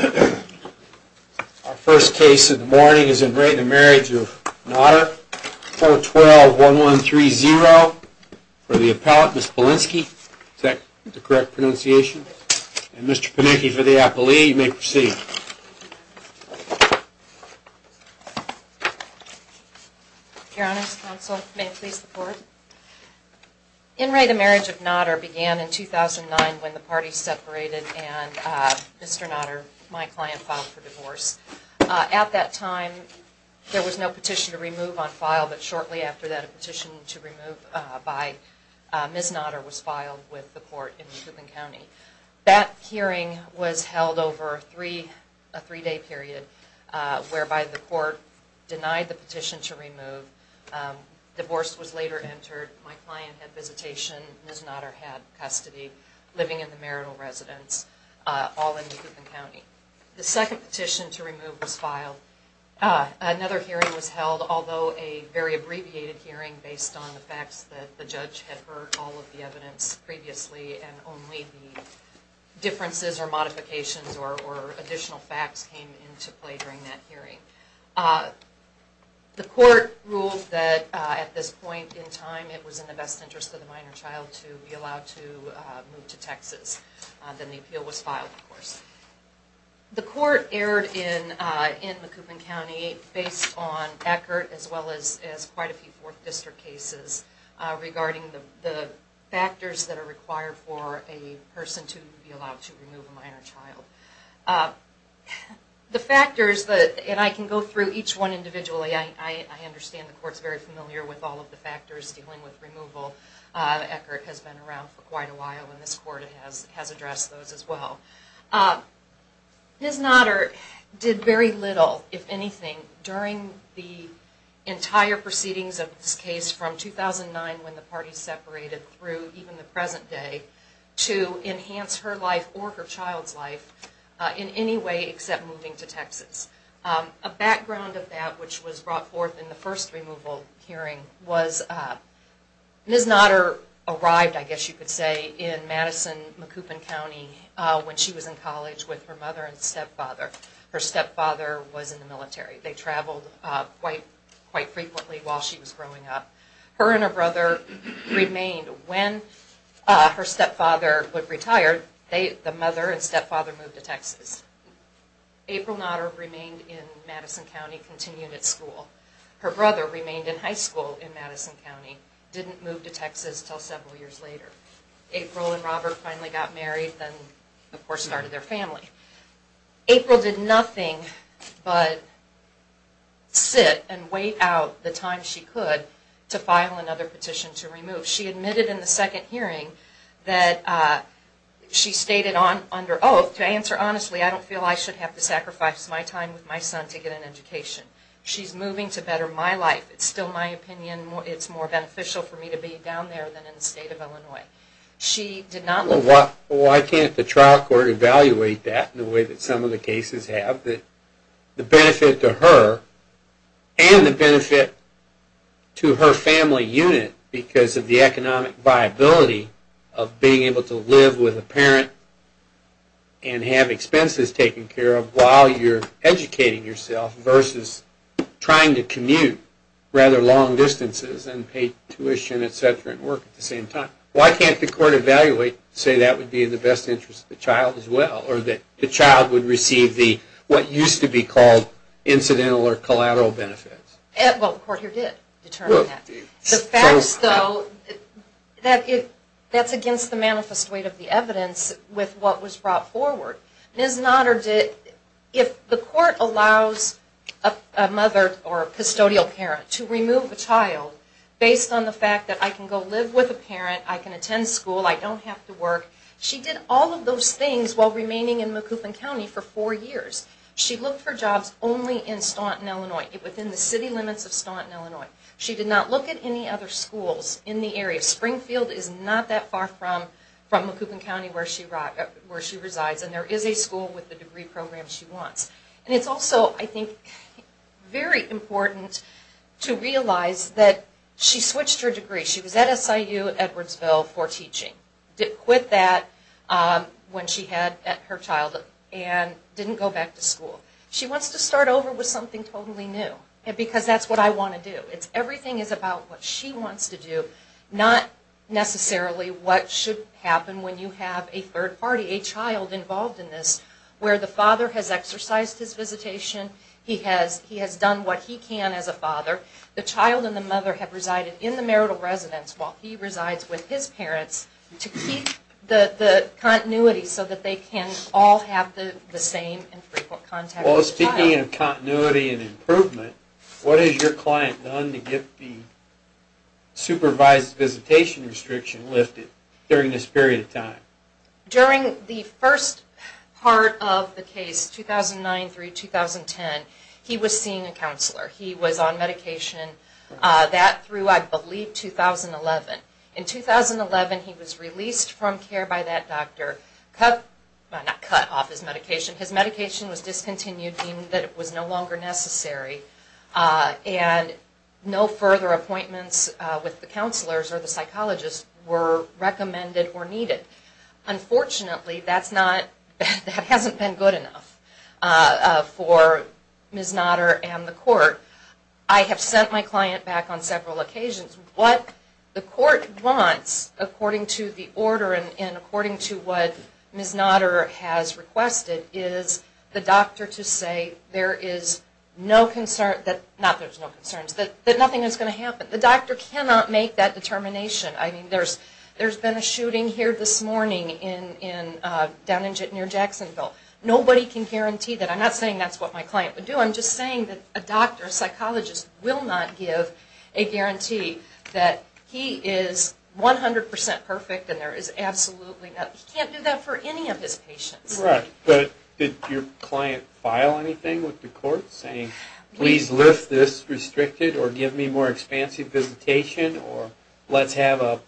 Our first case of the morning is In re the Marriage of Notter 412-1130 for the appellate Ms. Polinski, is that the correct pronunciation, and Mr. Panicki for the appellee, you may proceed. Your honors, counsel, may I please the floor? In re the Marriage of Notter began in 2009 when the parties separated and Mr. Notter, my client, filed for divorce. At that time, there was no petition to remove on file, but shortly after that a petition to remove by Ms. Notter was filed with the court in Lecoupen County. That hearing was held over a three day period, whereby the court denied the petition to remove, Divorce was later entered, my client had visitation, Ms. Notter had custody, living in the marital residence, all in Lecoupen County. The second petition to remove was filed. Another hearing was held, although a very abbreviated hearing based on the facts that the judge had heard all of the evidence previously and only the differences or modifications or additional facts came into play during that hearing. The court ruled that at this point in time it was in the best interest of the minor child to be allowed to move to Texas, then the appeal was filed, of course. The court erred in Lecoupen County based on Eckert as well as quite a few Fourth District cases regarding the factors that are required for a person to be allowed to remove a minor child. The factors, and I can go through each one individually, I understand the court is very familiar with all of the factors dealing with removal, Eckert has been around for quite a while and this court has addressed those as well. Ms. Notter did very little, if anything, during the entire proceedings of this case from 2009 when the parties separated through even the present day to enhance her life or her child's life in any way except moving to Texas. A background of that which was brought forth in the first removal hearing was Ms. Notter arrived, I guess you could say, in Madison, Lecoupen County when she was in college with her mother and stepfather. Her stepfather was in the military. They traveled quite frequently while she was growing up. Her and her brother remained. When her stepfather retired, the mother and stepfather moved to Texas. April Notter remained in Madison County, continued at school. Her brother remained in high school in Madison County, didn't move to Texas until several years later. April and Robert finally got married and of course started their family. April did nothing but sit and wait out the time she could to file another petition to remove. She admitted in the second hearing that she stated under oath, to answer honestly, I don't feel I should have to sacrifice my time with my son to get an education. She's moving to better my life. It's still my opinion. It's more beneficial for me to be down there than in the state of Illinois. Why can't the trial court evaluate that in the way that some of the cases have? The benefit to her and the benefit to her family unit because of the economic viability of being able to live with a parent and have expenses taken care of while you're educating yourself versus trying to commute rather long distances and pay tuition, et cetera, and why can't the court evaluate and say that would be in the best interest of the child as well or that the child would receive what used to be called incidental or collateral benefits? Well, the court here did determine that. The facts though, that's against the manifest weight of the evidence with what was brought forward. Ms. Nodder, if the court allows a mother or a custodial parent to remove a child based on the fact that I can go live with a parent, I can attend school, I don't have to work, she did all of those things while remaining in Macoupin County for four years. She looked for jobs only in Staunton, Illinois, within the city limits of Staunton, Illinois. She did not look at any other schools in the area. Springfield is not that far from Macoupin County where she resides and there is a school with the degree program she wants. And it's also, I think, very important to realize that she switched her degree. She was at SIU Edwardsville for teaching, quit that when she had her child and didn't go back to school. She wants to start over with something totally new because that's what I want to do. Everything is about what she wants to do, not necessarily what should happen when you have a third party, a child involved in this, where the father has exercised his visitation, he has done what he can as a father. The child and the mother have resided in the marital residence while he resides with his parents to keep the continuity so that they can all have the same and frequent contact with the child. Well, speaking of continuity and improvement, what has your client done to get the supervised visitation restriction lifted during this period of time? During the first part of the case, 2009 through 2010, he was seeing a counselor. He was on medication that through, I believe, 2011. In 2011, he was released from care by that doctor, not cut off his medication, his medication was discontinued, deemed that it was no longer necessary, and no further appointments with the counselors or the psychologists were recommended or needed. Unfortunately, that's not, that hasn't been good enough for Ms. Nodder and the court. I have sent my client back on several occasions. What the court wants, according to the order and according to what Ms. Nodder has requested, is the doctor to say there is no concern, not that there's no concerns, that nothing is going to happen. The doctor cannot make that determination. I mean, there's been a shooting here this morning down near Jacksonville. Nobody can guarantee that. I'm not saying that's what my client would do. I'm just saying that a doctor, a psychologist, will not give a guarantee that he is 100% perfect and there is absolutely nothing. He can't do that for any of his patients. Right. But did your client file anything with the court saying, please lift this restricted or give me more expansive visitation or let's have a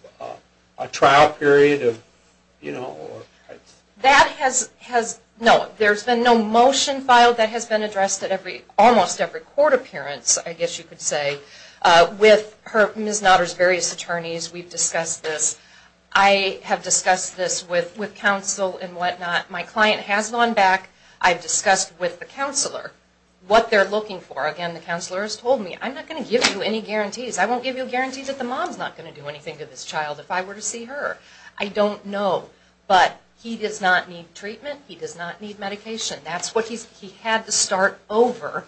trial period? That has, no, there's been no motion filed that has been addressed at almost every court appearance, I guess you could say, with Ms. Nodder's various attorneys. We've discussed this. I have discussed this with counsel and whatnot. My client has gone back. I've discussed with the counselor what they're looking for. Again, the counselor has told me, I'm not going to give you any guarantees. I won't give you a guarantee that the mom's not going to do anything to this child if I were to see her. I don't know. But he does not need treatment. He does not need medication. He had to start over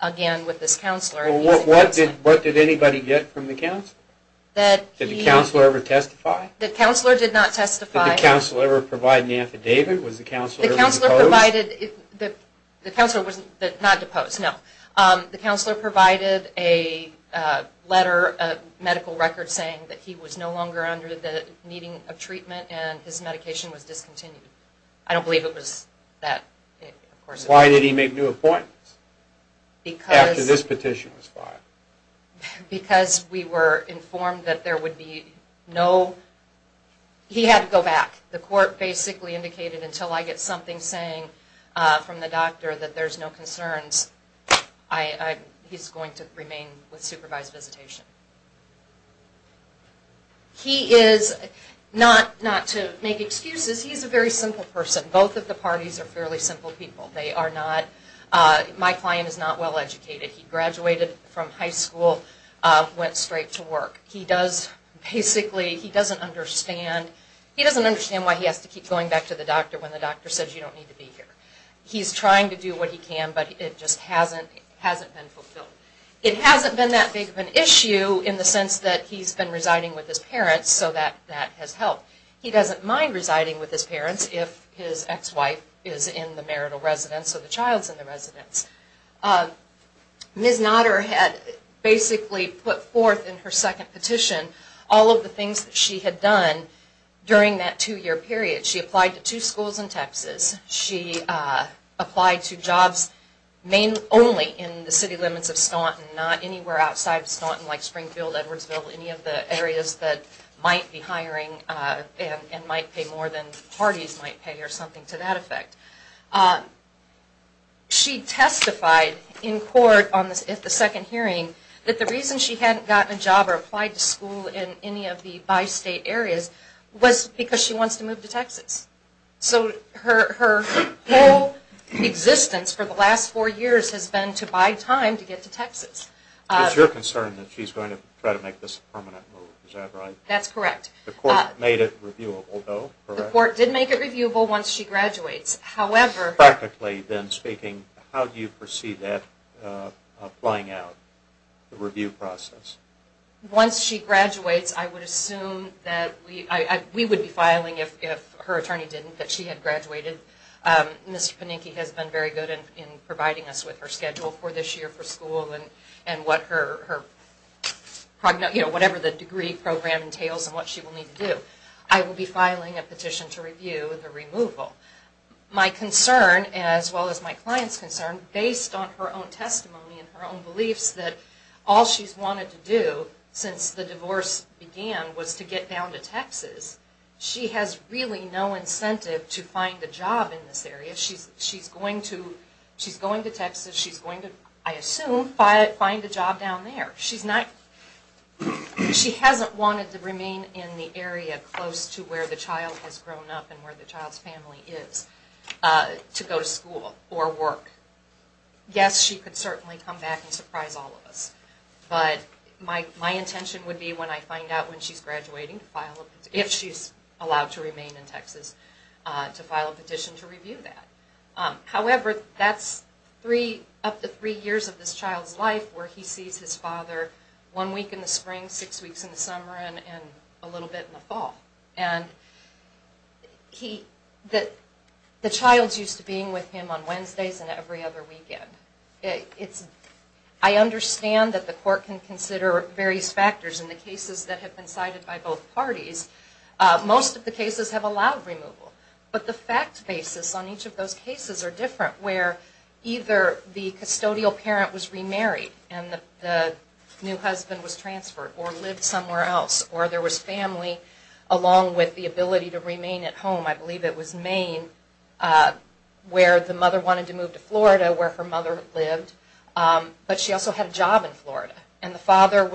again with this counselor. What did anybody get from the counselor? Did the counselor ever testify? The counselor did not testify. Did the counselor ever provide an affidavit? Was the counselor ever deposed? The counselor was not deposed, no. The counselor provided a letter, a medical record saying that he was no longer under the needing of treatment and his medication was discontinued. I don't believe it was that. Why did he make new appointments after this petition was filed? Because we were informed that there would be no, he had to go back. The court basically indicated until I get something saying from the doctor that there's no concerns, he's going to remain with supervised visitation. He is, not to make excuses, he's a very simple person. Both of the parties are fairly simple people. They are not, my client is not well educated. He graduated from high school, went straight to work. He does basically, he doesn't understand, he doesn't understand why he has to keep going back to the doctor when the doctor says you don't need to be here. He's trying to do what he can but it just hasn't been fulfilled. It hasn't been that big of an issue in the sense that he's been residing with his parents so that has helped. He doesn't mind residing with his parents if his ex-wife is in the marital residence or the child's in the residence. Ms. Notter had basically put forth in her second petition all of the things that she had done during that two year period. She applied to two schools in Texas. She applied to jobs only in the city limits of Staunton, not anywhere outside of Staunton like Springfield, Edwardsville, any of the areas that might be hiring and might pay more than parties might pay or something to that effect. She testified in court at the second hearing that the reason she hadn't gotten a job or applied to school in any of the bi-state areas was because she wants to move to Texas. So her whole existence for the last four years has been to buy time to get to Texas. It's your concern that she's going to try to make this a permanent move, is that right? That's correct. The court made it reviewable though, correct? The court did make it reviewable once she graduates. However... Practically then speaking, how do you foresee that flying out, the review process? Once she graduates, I would assume that we would be filing if her attorney didn't, that she had graduated. Mr. Panicki has been very good in providing us with her schedule for this year for school and whatever the degree program entails and what she will need to do. I will be filing a petition to review the removal. My concern as well as my client's concern based on her own testimony and her own beliefs that all she's wanted to do since the divorce began was to get down to Texas. She has really no incentive to find a job in this area. She's going to Texas. She's going to, I assume, find a job down there. She hasn't wanted to remain in the area close to where the child has grown up and where the child's family is to go to school or work. Yes, she could certainly come back and surprise all of us, but my intention would be when I find out when she's graduating, if she's allowed to remain in Texas, to file a petition to review that. However, that's up to three years of this child's life where he sees his father one week in the spring, six weeks in the summer, and a little bit in the fall. The child's used to being with him on Wednesdays and every other weekend. I understand that the court can consider various factors in the cases that have been cited by both parties. Most of the cases have allowed removal, but the fact basis on each of those cases are different where either the custodial parent was remarried and the new husband was transferred or lived somewhere else or there was family along with the ability to remain at home. I believe it was Maine where the mother wanted to move to Florida where her mother lived, but she also had a job in Florida. The father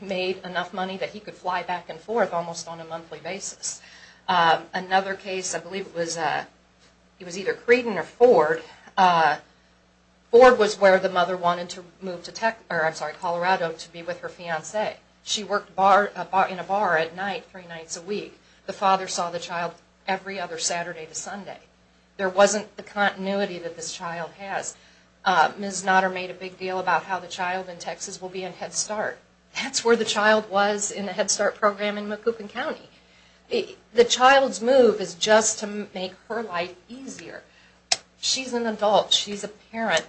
made enough money that he could fly back and forth almost on a monthly basis. Another case, I believe it was either Creighton or Ford, Ford was where the mother wanted to move to Colorado to be with her fiancé. She worked in a bar at night three nights a week. The father saw the child every other Saturday to Sunday. There wasn't the continuity that this child has. Ms. Notter made a big deal about how the child in Texas will be in Head Start. That's where the child was in the Head Start program in Macoupin County. The child's move is just to make her life easier. She's an adult. She's a parent.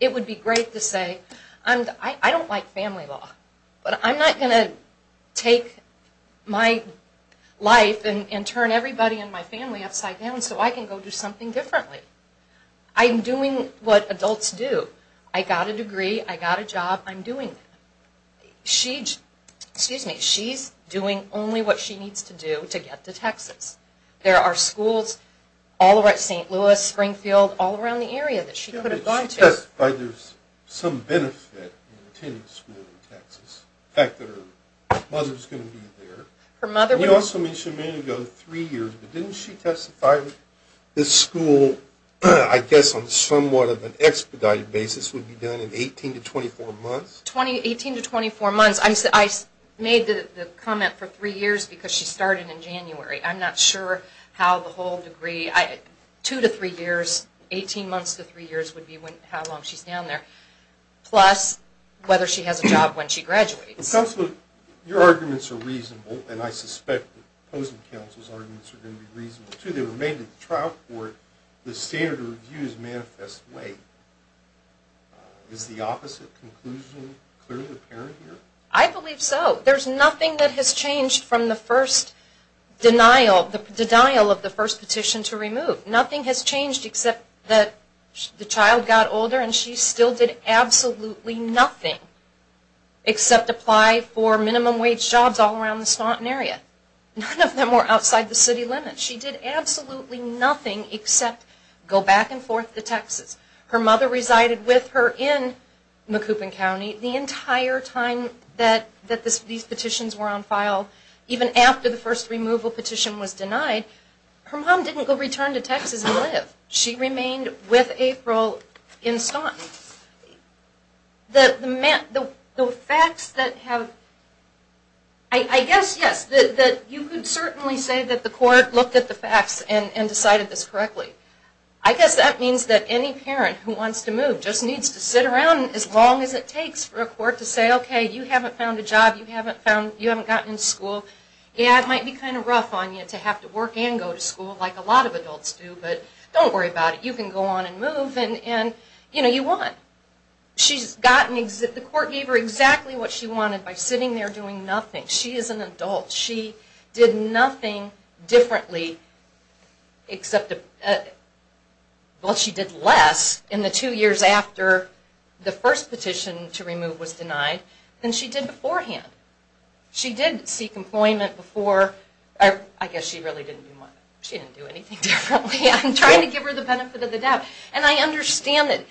It would be great to say, I don't like family law, but I'm not going to take my life and turn everybody in my family upside down so I can go do something differently. I'm doing what adults do. I got a degree. I got a job. I'm doing it. She's doing only what she needs to do to get to Texas. There are schools all over St. Louis, Springfield, all around the area that she could have gone to. She testified there's some benefit in attending school in Texas, the fact that her mother's going to be there. You also mentioned three years ago, didn't she testify this school, I guess on somewhat of an expedited basis, would be done in 18 to 24 months? 18 to 24 months. I made the comment for three years because she started in January. I'm not sure how the whole degree, two to three years, 18 months to three years would be how long she's down there, plus whether she has a job when she graduates. Counselor, your arguments are reasonable, and I suspect the opposing counsel's arguments are going to be reasonable, too. They were made in the trial court. The standard of review is manifest way. Is the opposite conclusion clearly apparent here? I believe so. There's nothing that has changed from the first denial, the denial of the first petition to remove. Nothing has changed except that the child got older and she still did absolutely nothing except apply for minimum wage jobs all around the Staunton area. None of them were outside the city limits. She did absolutely nothing except go back and forth to Texas. Her mother resided with her in Macoupin County. The entire time that these petitions were on file, even after the first removal petition was denied, her mom didn't go return to Texas and live. She remained with April in Staunton. The facts that have, I guess, yes, you could certainly say that the court looked at the facts and decided this correctly. I guess that means that any parent who wants to move just needs to sit around as long as it takes for a court to say, okay, you haven't found a job. You haven't gotten into school. Yeah, it might be kind of rough on you to have to work and go to school like a lot of adults do, but don't worry about it. You can go on and move and, you know, you won. The court gave her exactly what she wanted by sitting there doing nothing. She is an adult. She did nothing differently except, well, she did less in the two years after the first petition to remove was denied than she did beforehand. She did seek employment before. I guess she really didn't do much. She didn't do anything differently. I'm trying to give her the benefit of the doubt. And I understand that.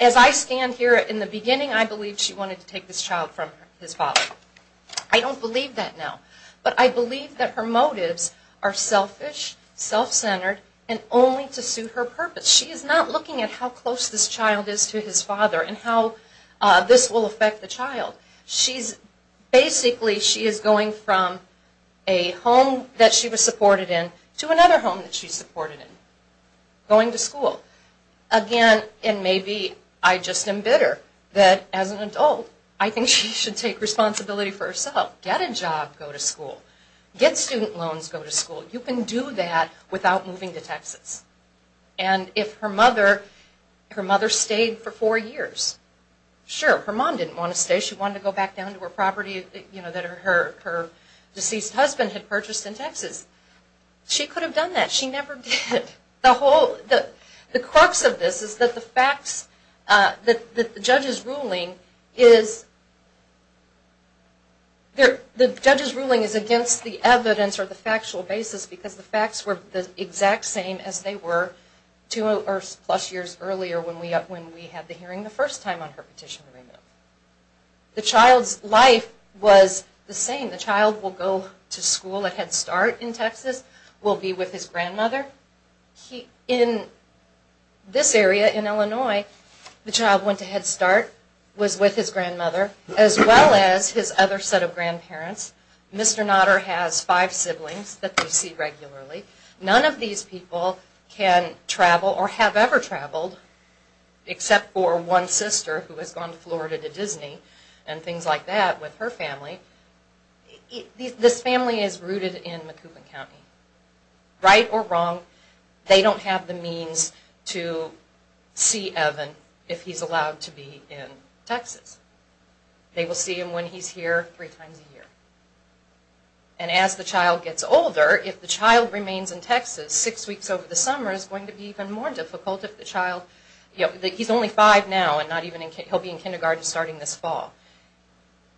As I stand here in the beginning, I believe she wanted to take this child from his father. I don't believe that now. But I believe that her motives are selfish, self-centered, and only to suit her purpose. She is not looking at how close this child is to his father and how this will affect the child. Basically, she is going from a home that she was supported in to another home that she's supported in, going to school. Again, and maybe I just am bitter that, as an adult, I think she should take responsibility for herself. Get a job, go to school. Get student loans, go to school. You can do that without moving to Texas. And if her mother stayed for four years, sure. Her mom didn't want to stay. She wanted to go back down to her property that her deceased husband had purchased in Texas. She could have done that. She never did. The crux of this is that the judge's ruling is against the evidence or the factual basis because the facts were the exact same as they were two plus years earlier when we had the hearing the first time on her petition. The child's life was the same. will be with his grandmother. In this area, in Illinois, the child went to Head Start, was with his grandmother, as well as his other set of grandparents. Mr. Notter has five siblings that they see regularly. None of these people can travel or have ever traveled except for one sister who has gone to Florida to Disney and things like that with her family. This family is rooted in Macoupin County. Right or wrong, they don't have the means to see Evan if he's allowed to be in Texas. They will see him when he's here three times a year. And as the child gets older, if the child remains in Texas, six weeks over the summer is going to be even more difficult if the child, he's only five now and he'll be in kindergarten starting this fall.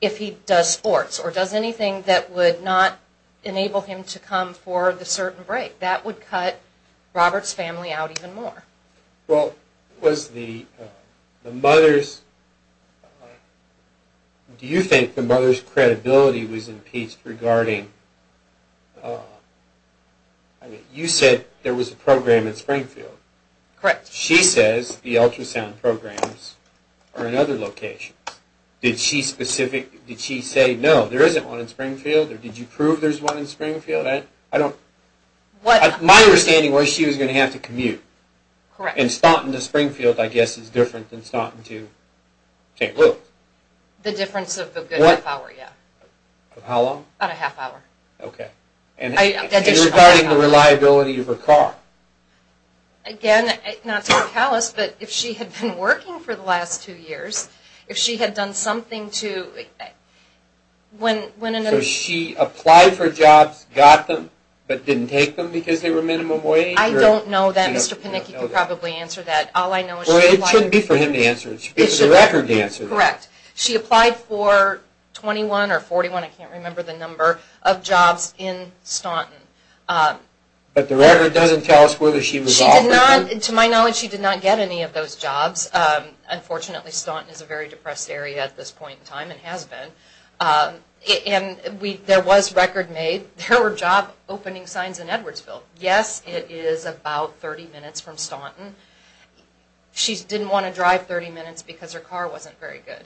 If he does sports or does anything that would not enable him to come for the certain break, that would cut Robert's family out even more. Well, was the mother's, do you think the mother's credibility was impeached regarding, you said there was a program in Springfield. Correct. She says the ultrasound programs are in other locations. Did she specific, did she say no, there isn't one in Springfield or did you prove there's one in Springfield? I don't, my understanding was she was going to have to commute. Correct. And starting in Springfield I guess is different than starting to take a look. The difference of a good half hour, yeah. How long? About a half hour. Okay. And regarding the reliability of her car. Again, not to be callous, but if she had been working for the last two years, if she had done something to, when and if. So she applied for jobs, got them, but didn't take them because they were minimum wage? I don't know that. Mr. Panicki can probably answer that. All I know is she applied. Well, it shouldn't be for him to answer it. It should be for the record to answer that. Correct. She applied for 21 or 41, I can't remember the number, of jobs in Staunton. But the record doesn't tell us whether she was offered them? To my knowledge, she did not get any of those jobs. Unfortunately, Staunton is a very depressed area at this point in time and has been. And there was record made, there were job opening signs in Edwardsville. Yes, it is about 30 minutes from Staunton. She didn't want to drive 30 minutes because her car wasn't very good.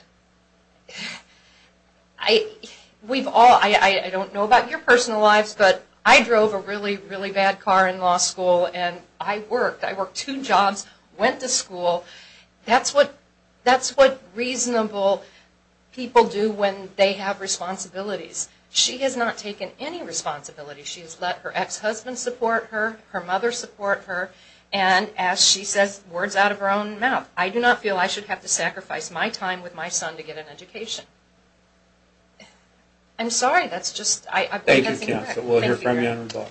We've all, I don't know about your personal lives, but I drove a really, really bad car in law school and I worked. I worked two jobs, went to school. That's what reasonable people do when they have responsibilities. She has not taken any responsibility. She has let her ex-husband support her, her mother support her, and as she says, words out of her own mouth, I do not feel I should have to sacrifice my time with my son to get an education. I'm sorry. Thank you, counsel. We'll hear from you on rebuttal.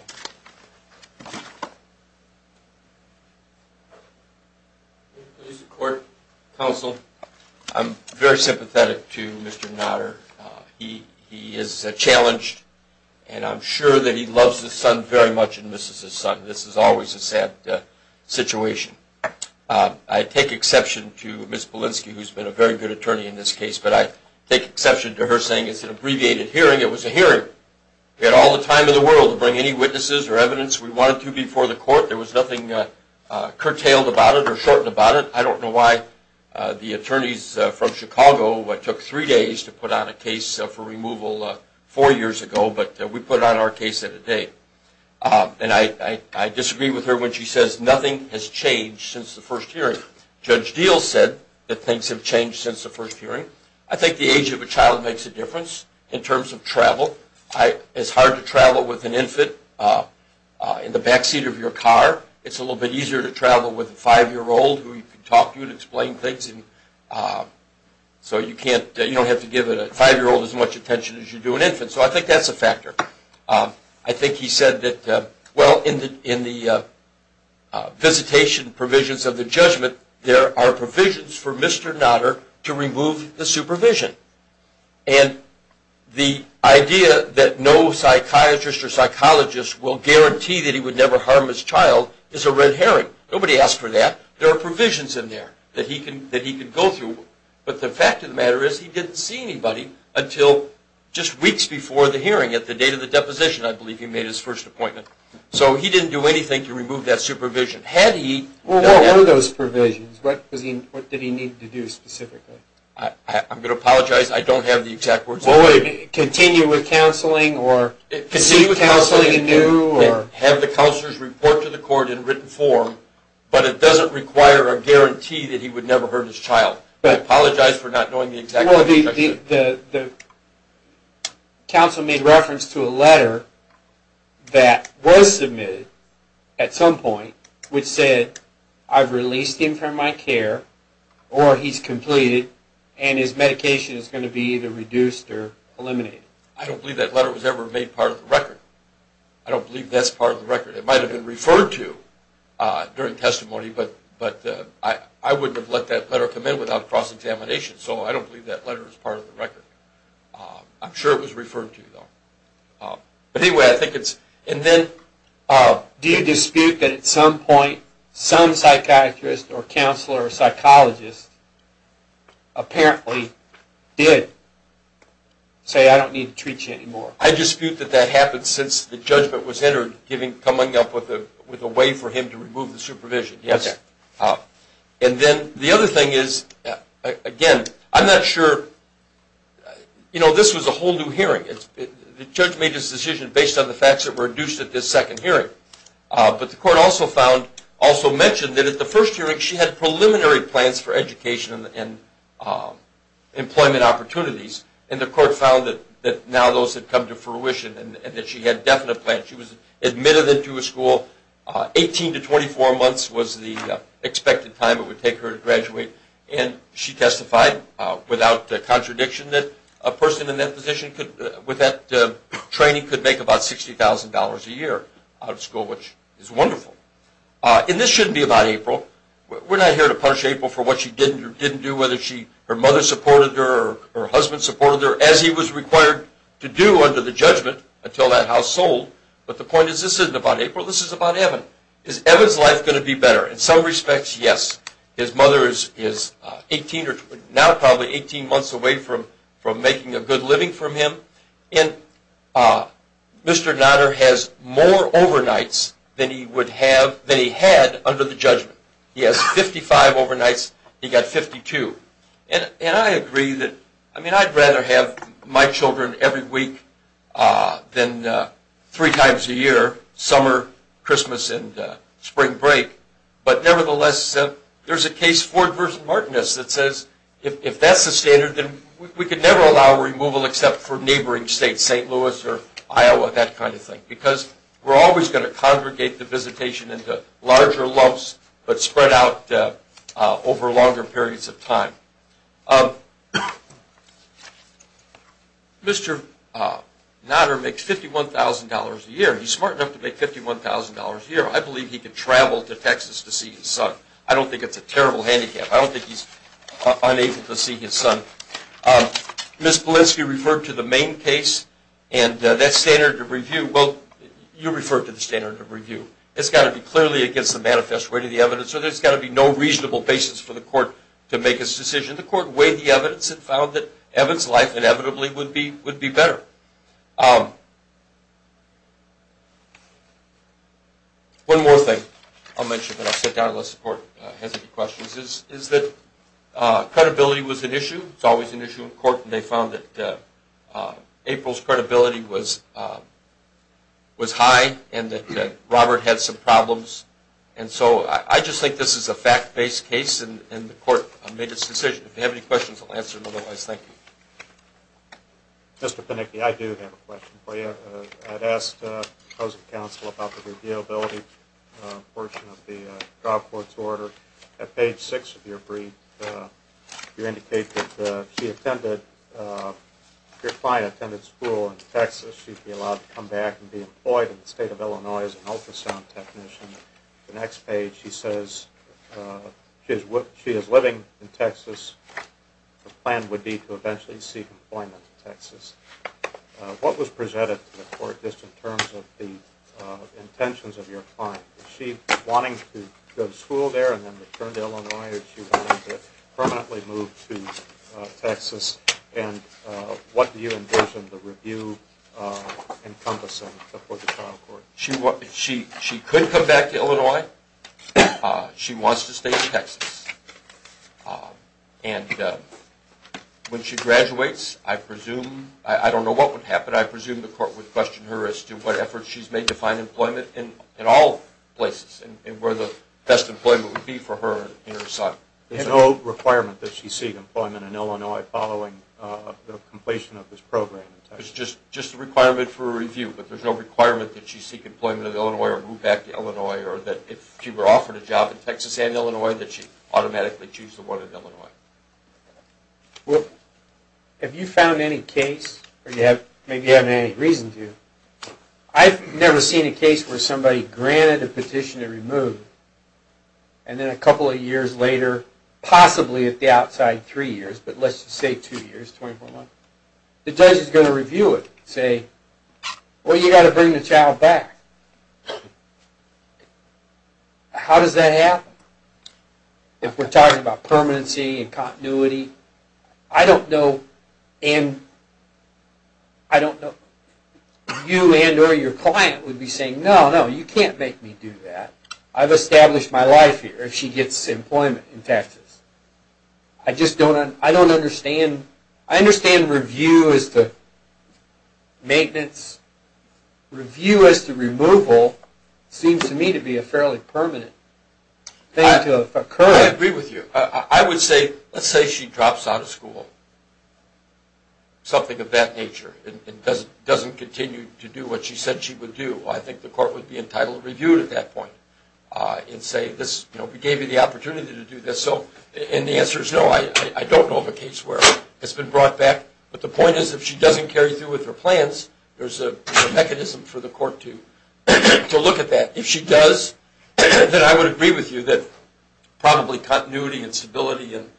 Mr. Court, counsel, I'm very sympathetic to Mr. Notter. He is challenged and I'm sure that he loves his son very much and misses his son. This is always a sad situation. I take exception to Ms. Belinsky, who's been a very good attorney in this case, but I take exception to her saying it's an abbreviated hearing. It was a hearing. We had all the time in the world to bring any witnesses or evidence we wanted to before the court. There was nothing curtailed about it or shortened about it. I don't know why the attorneys from Chicago took three days to put on a case for removal four years ago, but we put on our case at a date. And I disagree with her when she says nothing has changed since the first hearing. Judge Deal said that things have changed since the first hearing. I think the age of a child makes a difference in terms of travel. It's hard to travel with an infant in the backseat of your car. It's a little bit easier to travel with a five-year-old who can talk to you and explain things so you don't have to give a five-year-old as much attention as you do an infant. So I think that's a factor. I think he said that, well, in the visitation provisions of the judgment, there are provisions for Mr. Notter to remove the supervision. And the idea that no psychiatrist or psychologist will guarantee that he would never harm his child is a red herring. Nobody asked for that. There are provisions in there that he could go through. But the fact of the matter is he didn't see anybody until just weeks before the hearing at the date of the deposition, I believe, he made his first appointment. So he didn't do anything to remove that supervision. Well, what were those provisions? What did he need to do specifically? I'm going to apologize. I don't have the exact words. Continue with counseling? Have the counselors report to the court in written form, but it doesn't require a guarantee that he would never hurt his child. I apologize for not knowing the exact description. Well, the counsel made reference to a letter that was submitted at some point which said I've released him from my care or he's completed and his medication is going to be either reduced or eliminated. I don't believe that letter was ever made part of the record. I don't believe that's part of the record. It might have been referred to during testimony, but I wouldn't have let that letter come in without cross-examination, so I don't believe that letter is part of the record. I'm sure it was referred to, though. Do you dispute that at some point some psychiatrist or counselor or psychologist apparently did say I don't need to treat you anymore? I dispute that that happened since the judgment was entered, coming up with a way for him to remove the supervision, yes. And then the other thing is, again, I'm not sure. You know, this was a whole new hearing. The judge made his decision based on the facts that were reduced at this second hearing, but the court also found, also mentioned that at the first hearing she had preliminary plans for education and employment opportunities, and the court found that now those had come to fruition and that she had definite plans. She was admitted into a school. Eighteen to 24 months was the expected time it would take her to graduate, and she testified without contradiction that a person in that position with that training could make about $60,000 a year out of school, which is wonderful. And this shouldn't be about April. We're not here to punish April for what she did or didn't do, whether her mother supported her or her husband supported her, as he was required to do under the judgment until that house sold. But the point is this isn't about April. This is about Evan. Is Evan's life going to be better? In some respects, yes. His mother is now probably 18 months away from making a good living from him, and Mr. Nodder has more overnights than he had under the judgment. He has 55 overnights. He got 52. And I agree that I'd rather have my children every week than three times a year, summer, Christmas, and spring break. But nevertheless, there's a case, Ford v. Martinus, that says if that's the standard, then we could never allow removal except for neighboring states, St. Louis or Iowa, that kind of thing, because we're always going to congregate the visitation into larger lumps but spread out over longer periods of time. Mr. Nodder makes $51,000 a year. He's smart enough to make $51,000 a year. I believe he could travel to Texas to see his son. I don't think it's a terrible handicap. I don't think he's unable to see his son. Ms. Polinsky referred to the main case and that standard of review. Well, you referred to the standard of review. It's got to be clearly against the manifest way to the evidence, or there's got to be no reasonable basis for the court to make its decision. The court weighed the evidence and found that Evan's life inevitably would be better. One more thing I'll mention, then I'll sit down unless the court has any questions, is that credibility was an issue. It's always an issue in court. They found that April's credibility was high and that Robert had some problems. I just think this is a fact-based case and the court made its decision. If you have any questions, I'll answer them otherwise. Thank you. Mr. Panicki, I do have a question for you. I'd asked the opposing counsel about the reviewability portion of the trial court's order. At page 6 of your brief, you indicate that if your client attended school in Texas, she'd be allowed to come back and be employed in the state of Illinois as an ultrasound technician. The next page, she says she is living in Texas. The plan would be to eventually seek employment in Texas. What was presented to the court just in terms of the intentions of your client? Is she wanting to go to school there and then return to Illinois, or is she wanting to permanently move to Texas? What do you envision the review encompassing for the trial court? She could come back to Illinois. She wants to stay in Texas. When she graduates, I don't know what would happen. I presume the court would question her as to what efforts she's made to find employment in all places and where the best employment would be for her in her assignment. There's no requirement that she seek employment in Illinois following the completion of this program. It's just a requirement for a review, but there's no requirement that she seek employment in Illinois or move back to Illinois, or that if she were offered a job in Texas and Illinois, that she automatically choose the one in Illinois. Have you found any case, or maybe you haven't had any reason to, I've never seen a case where somebody granted a petition to remove, and then a couple of years later, possibly at the outside, three years, but let's just say two years, 24 months, the judge is going to review it and say, well, you've got to bring the child back. How does that happen? If we're talking about permanency and continuity, I don't know, you and or your client would be saying, no, no, you can't make me do that. I've established my life here if she gets employment in Texas. I just don't understand. I understand review as to maintenance. Review as to removal seems to me to be a fairly permanent thing to occur. I agree with you. I would say, let's say she drops out of school, something of that nature, and doesn't continue to do what she said she would do. I think the court would be entitled to review at that point and say, we gave you the opportunity to do this, and the answer is no. I don't know of a case where it's been brought back, but the point is if she doesn't carry through with her plans, there's a mechanism for the court to look at that. If she does, then I would agree with you that probably continuity and stability and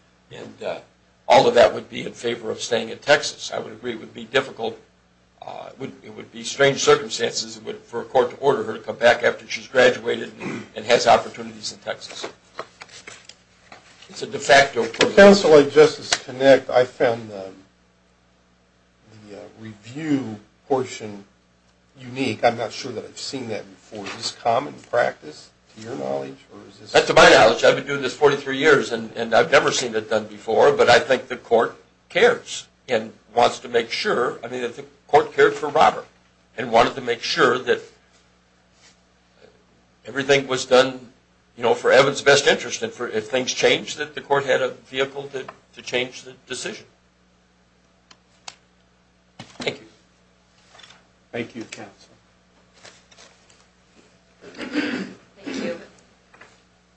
all of that would be in favor of staying in Texas. I would agree it would be difficult, it would be strange circumstances for a court to order her to come back after she's graduated and has opportunities in Texas. It's a de facto privilege. Counsel, I just as a connect, I found the review portion unique. I'm not sure that I've seen that before. Is this common practice to your knowledge? To my knowledge, I've been doing this 43 years, and I've never seen it done before, but I think the court cares and wants to make sure. I think the court cared for Robert and wanted to make sure that everything was done for Evan's best interest and if things changed, that the court had a vehicle to change the decision. Thank you. Thank you, Counsel. Thank you.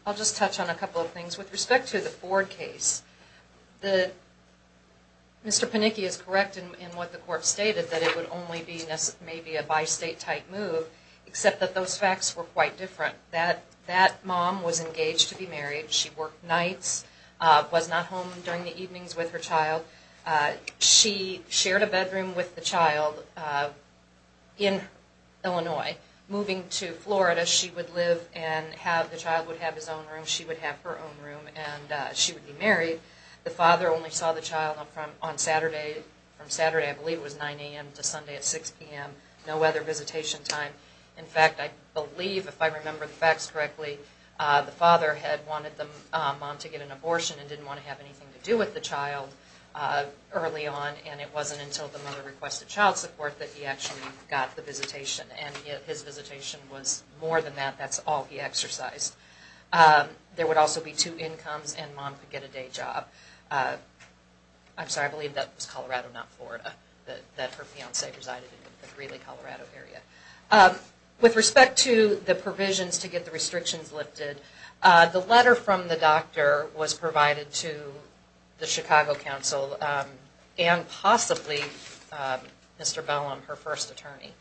I'll just touch on a couple of things. With respect to the Ford case, Mr. Panicki is correct in what the court stated, that it would only be maybe a bi-state type move, except that those facts were quite different. That mom was engaged to be married. She worked nights, was not home during the evenings with her child. She shared a bedroom with the child in Illinois. Moving to Florida, she would live and the child would have his own room, she would have her own room, and she would be married. The father only saw the child on Saturday. From Saturday, I believe it was 9 a.m. to Sunday at 6 p.m., no other visitation time. In fact, I believe, if I remember the facts correctly, the father had wanted the mom to get an abortion and didn't want to have anything to do with the child early on, and it wasn't until the mother requested child support that he actually got the visitation. And his visitation was more than that, that's all he exercised. There would also be two incomes and mom could get a day job. I'm sorry, I believe that was Colorado, not Florida, that her fiancé resided in the Greeley, Colorado area. With respect to the provisions to get the restrictions lifted, the letter from the doctor was provided to the Chicago council and possibly Mr. Bellum, her first attorney,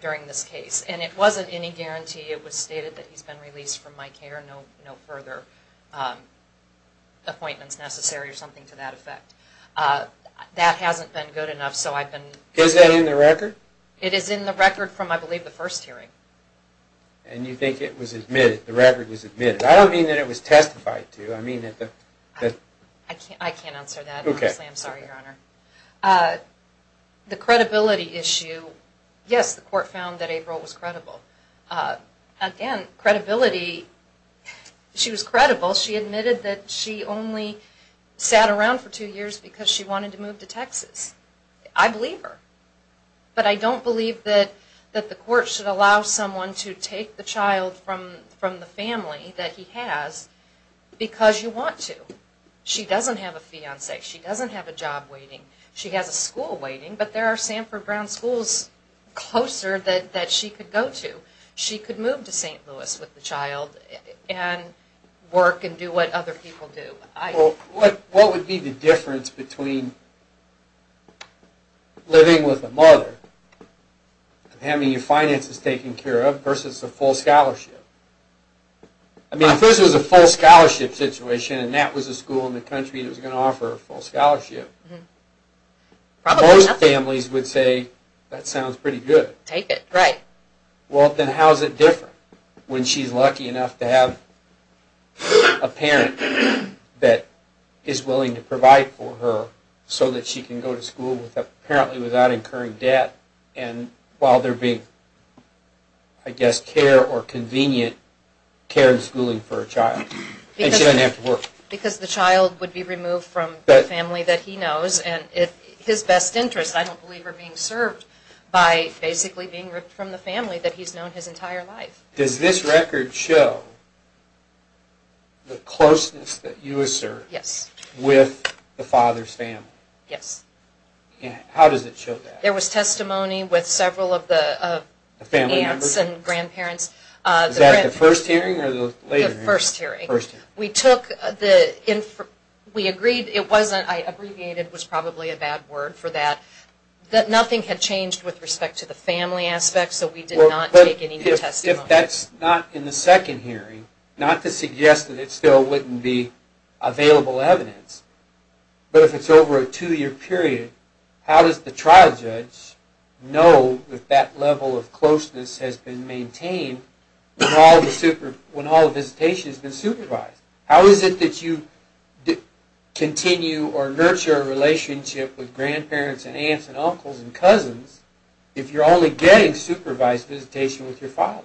during this case. And it wasn't any guarantee, it was stated that he's been released from my care, no further appointments necessary or something to that effect. That hasn't been good enough, so I've been... Is that in the record? It is in the record from, I believe, the first hearing. And you think it was admitted, the record was admitted. I don't mean that it was testified to, I mean that the... I can't answer that, honestly, I'm sorry, Your Honor. The credibility issue, yes, the court found that April was credible. Again, credibility, she was credible. She admitted that she only sat around for two years because she wanted to move to Texas. I believe her. But I don't believe that the court should allow someone to take the child from the family that he has because you want to. She doesn't have a fiancé, she doesn't have a job waiting, she has a school waiting, but there are Sanford Brown schools closer that she could go to. She could move to St. Louis with the child and work and do what other people do. Well, what would be the difference between living with a mother and having your finances taken care of versus a full scholarship? I mean, if this was a full scholarship situation and that was a school in the country that was going to offer a full scholarship, most families would say, that sounds pretty good. Take it. Right. Well, then how is it different when she's lucky enough to have a parent that is willing to provide for her so that she can go to school apparently without incurring debt and while there being, I guess, care or convenient care and schooling for her child? And she doesn't have to work. Because the child would be removed from the family that he knows and his best interests, I don't believe, are being served by basically being ripped from the family that he's known his entire life. Does this record show the closeness that you assert with the father's family? Yes. How does it show that? There was testimony with several of the aunts and grandparents. Was that the first hearing or the later hearing? The first hearing. First hearing. We took the, we agreed, it wasn't, I abbreviated, it was probably a bad word for that, that nothing had changed with respect to the family aspect so we did not take any new testimony. If that's not in the second hearing, not to suggest that it still wouldn't be available evidence, but if it's over a two-year period, how does the trial judge know that that level of closeness has been maintained when all the visitation has been supervised? How is it that you continue or nurture a relationship with grandparents and aunts and uncles and cousins if you're only getting supervised visitation with your father?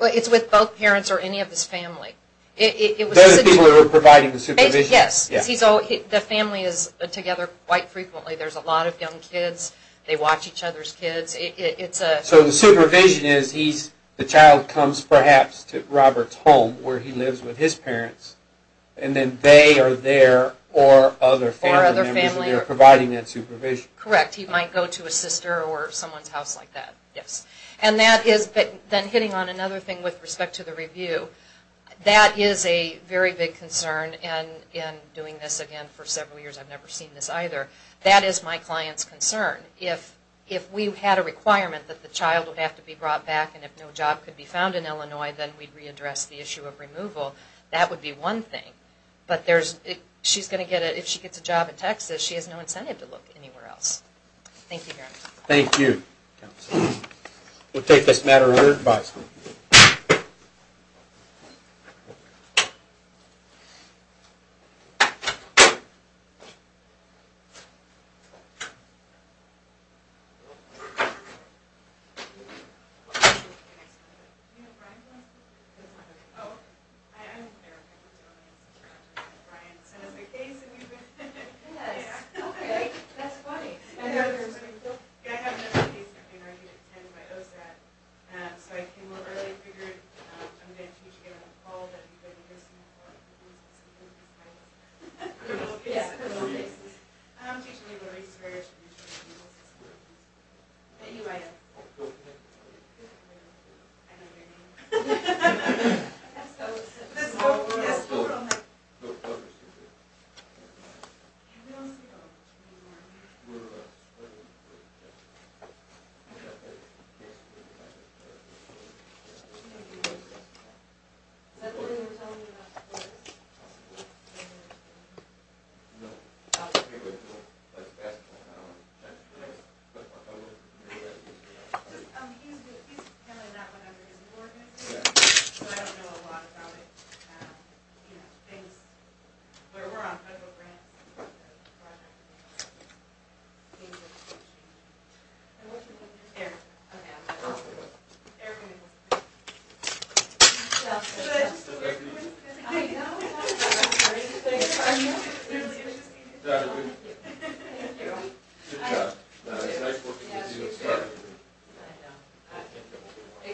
Well, it's with both parents or any of his family. Those are the people who are providing the supervision? Yes. The family is together quite frequently. There's a lot of young kids. They watch each other's kids. So the supervision is the child comes perhaps to Robert's home where he lives with his parents and then they are there or other family members and they're providing that supervision? Correct. He might go to a sister or someone's house like that, yes. And that is, then hitting on another thing with respect to the review, that is a very big concern. And in doing this again for several years, I've never seen this either. That is my client's concern. If we had a requirement that the child would have to be brought back and if no job could be found in Illinois, then we'd readdress the issue of removal. That would be one thing. But if she gets a job in Texas, she has no incentive to look anywhere else. Thank you, Gary. Thank you. We'll take this matter under advisement. So I came up early. I figured I'm going to teach you all that you've been listening for. I'm teaching you the research. Anyway. I know your name. I guess that was it. I don't know a lot about it. We're on federal grants. Eric. Good job. It's nice working with you. Exactly. Nice to meet you.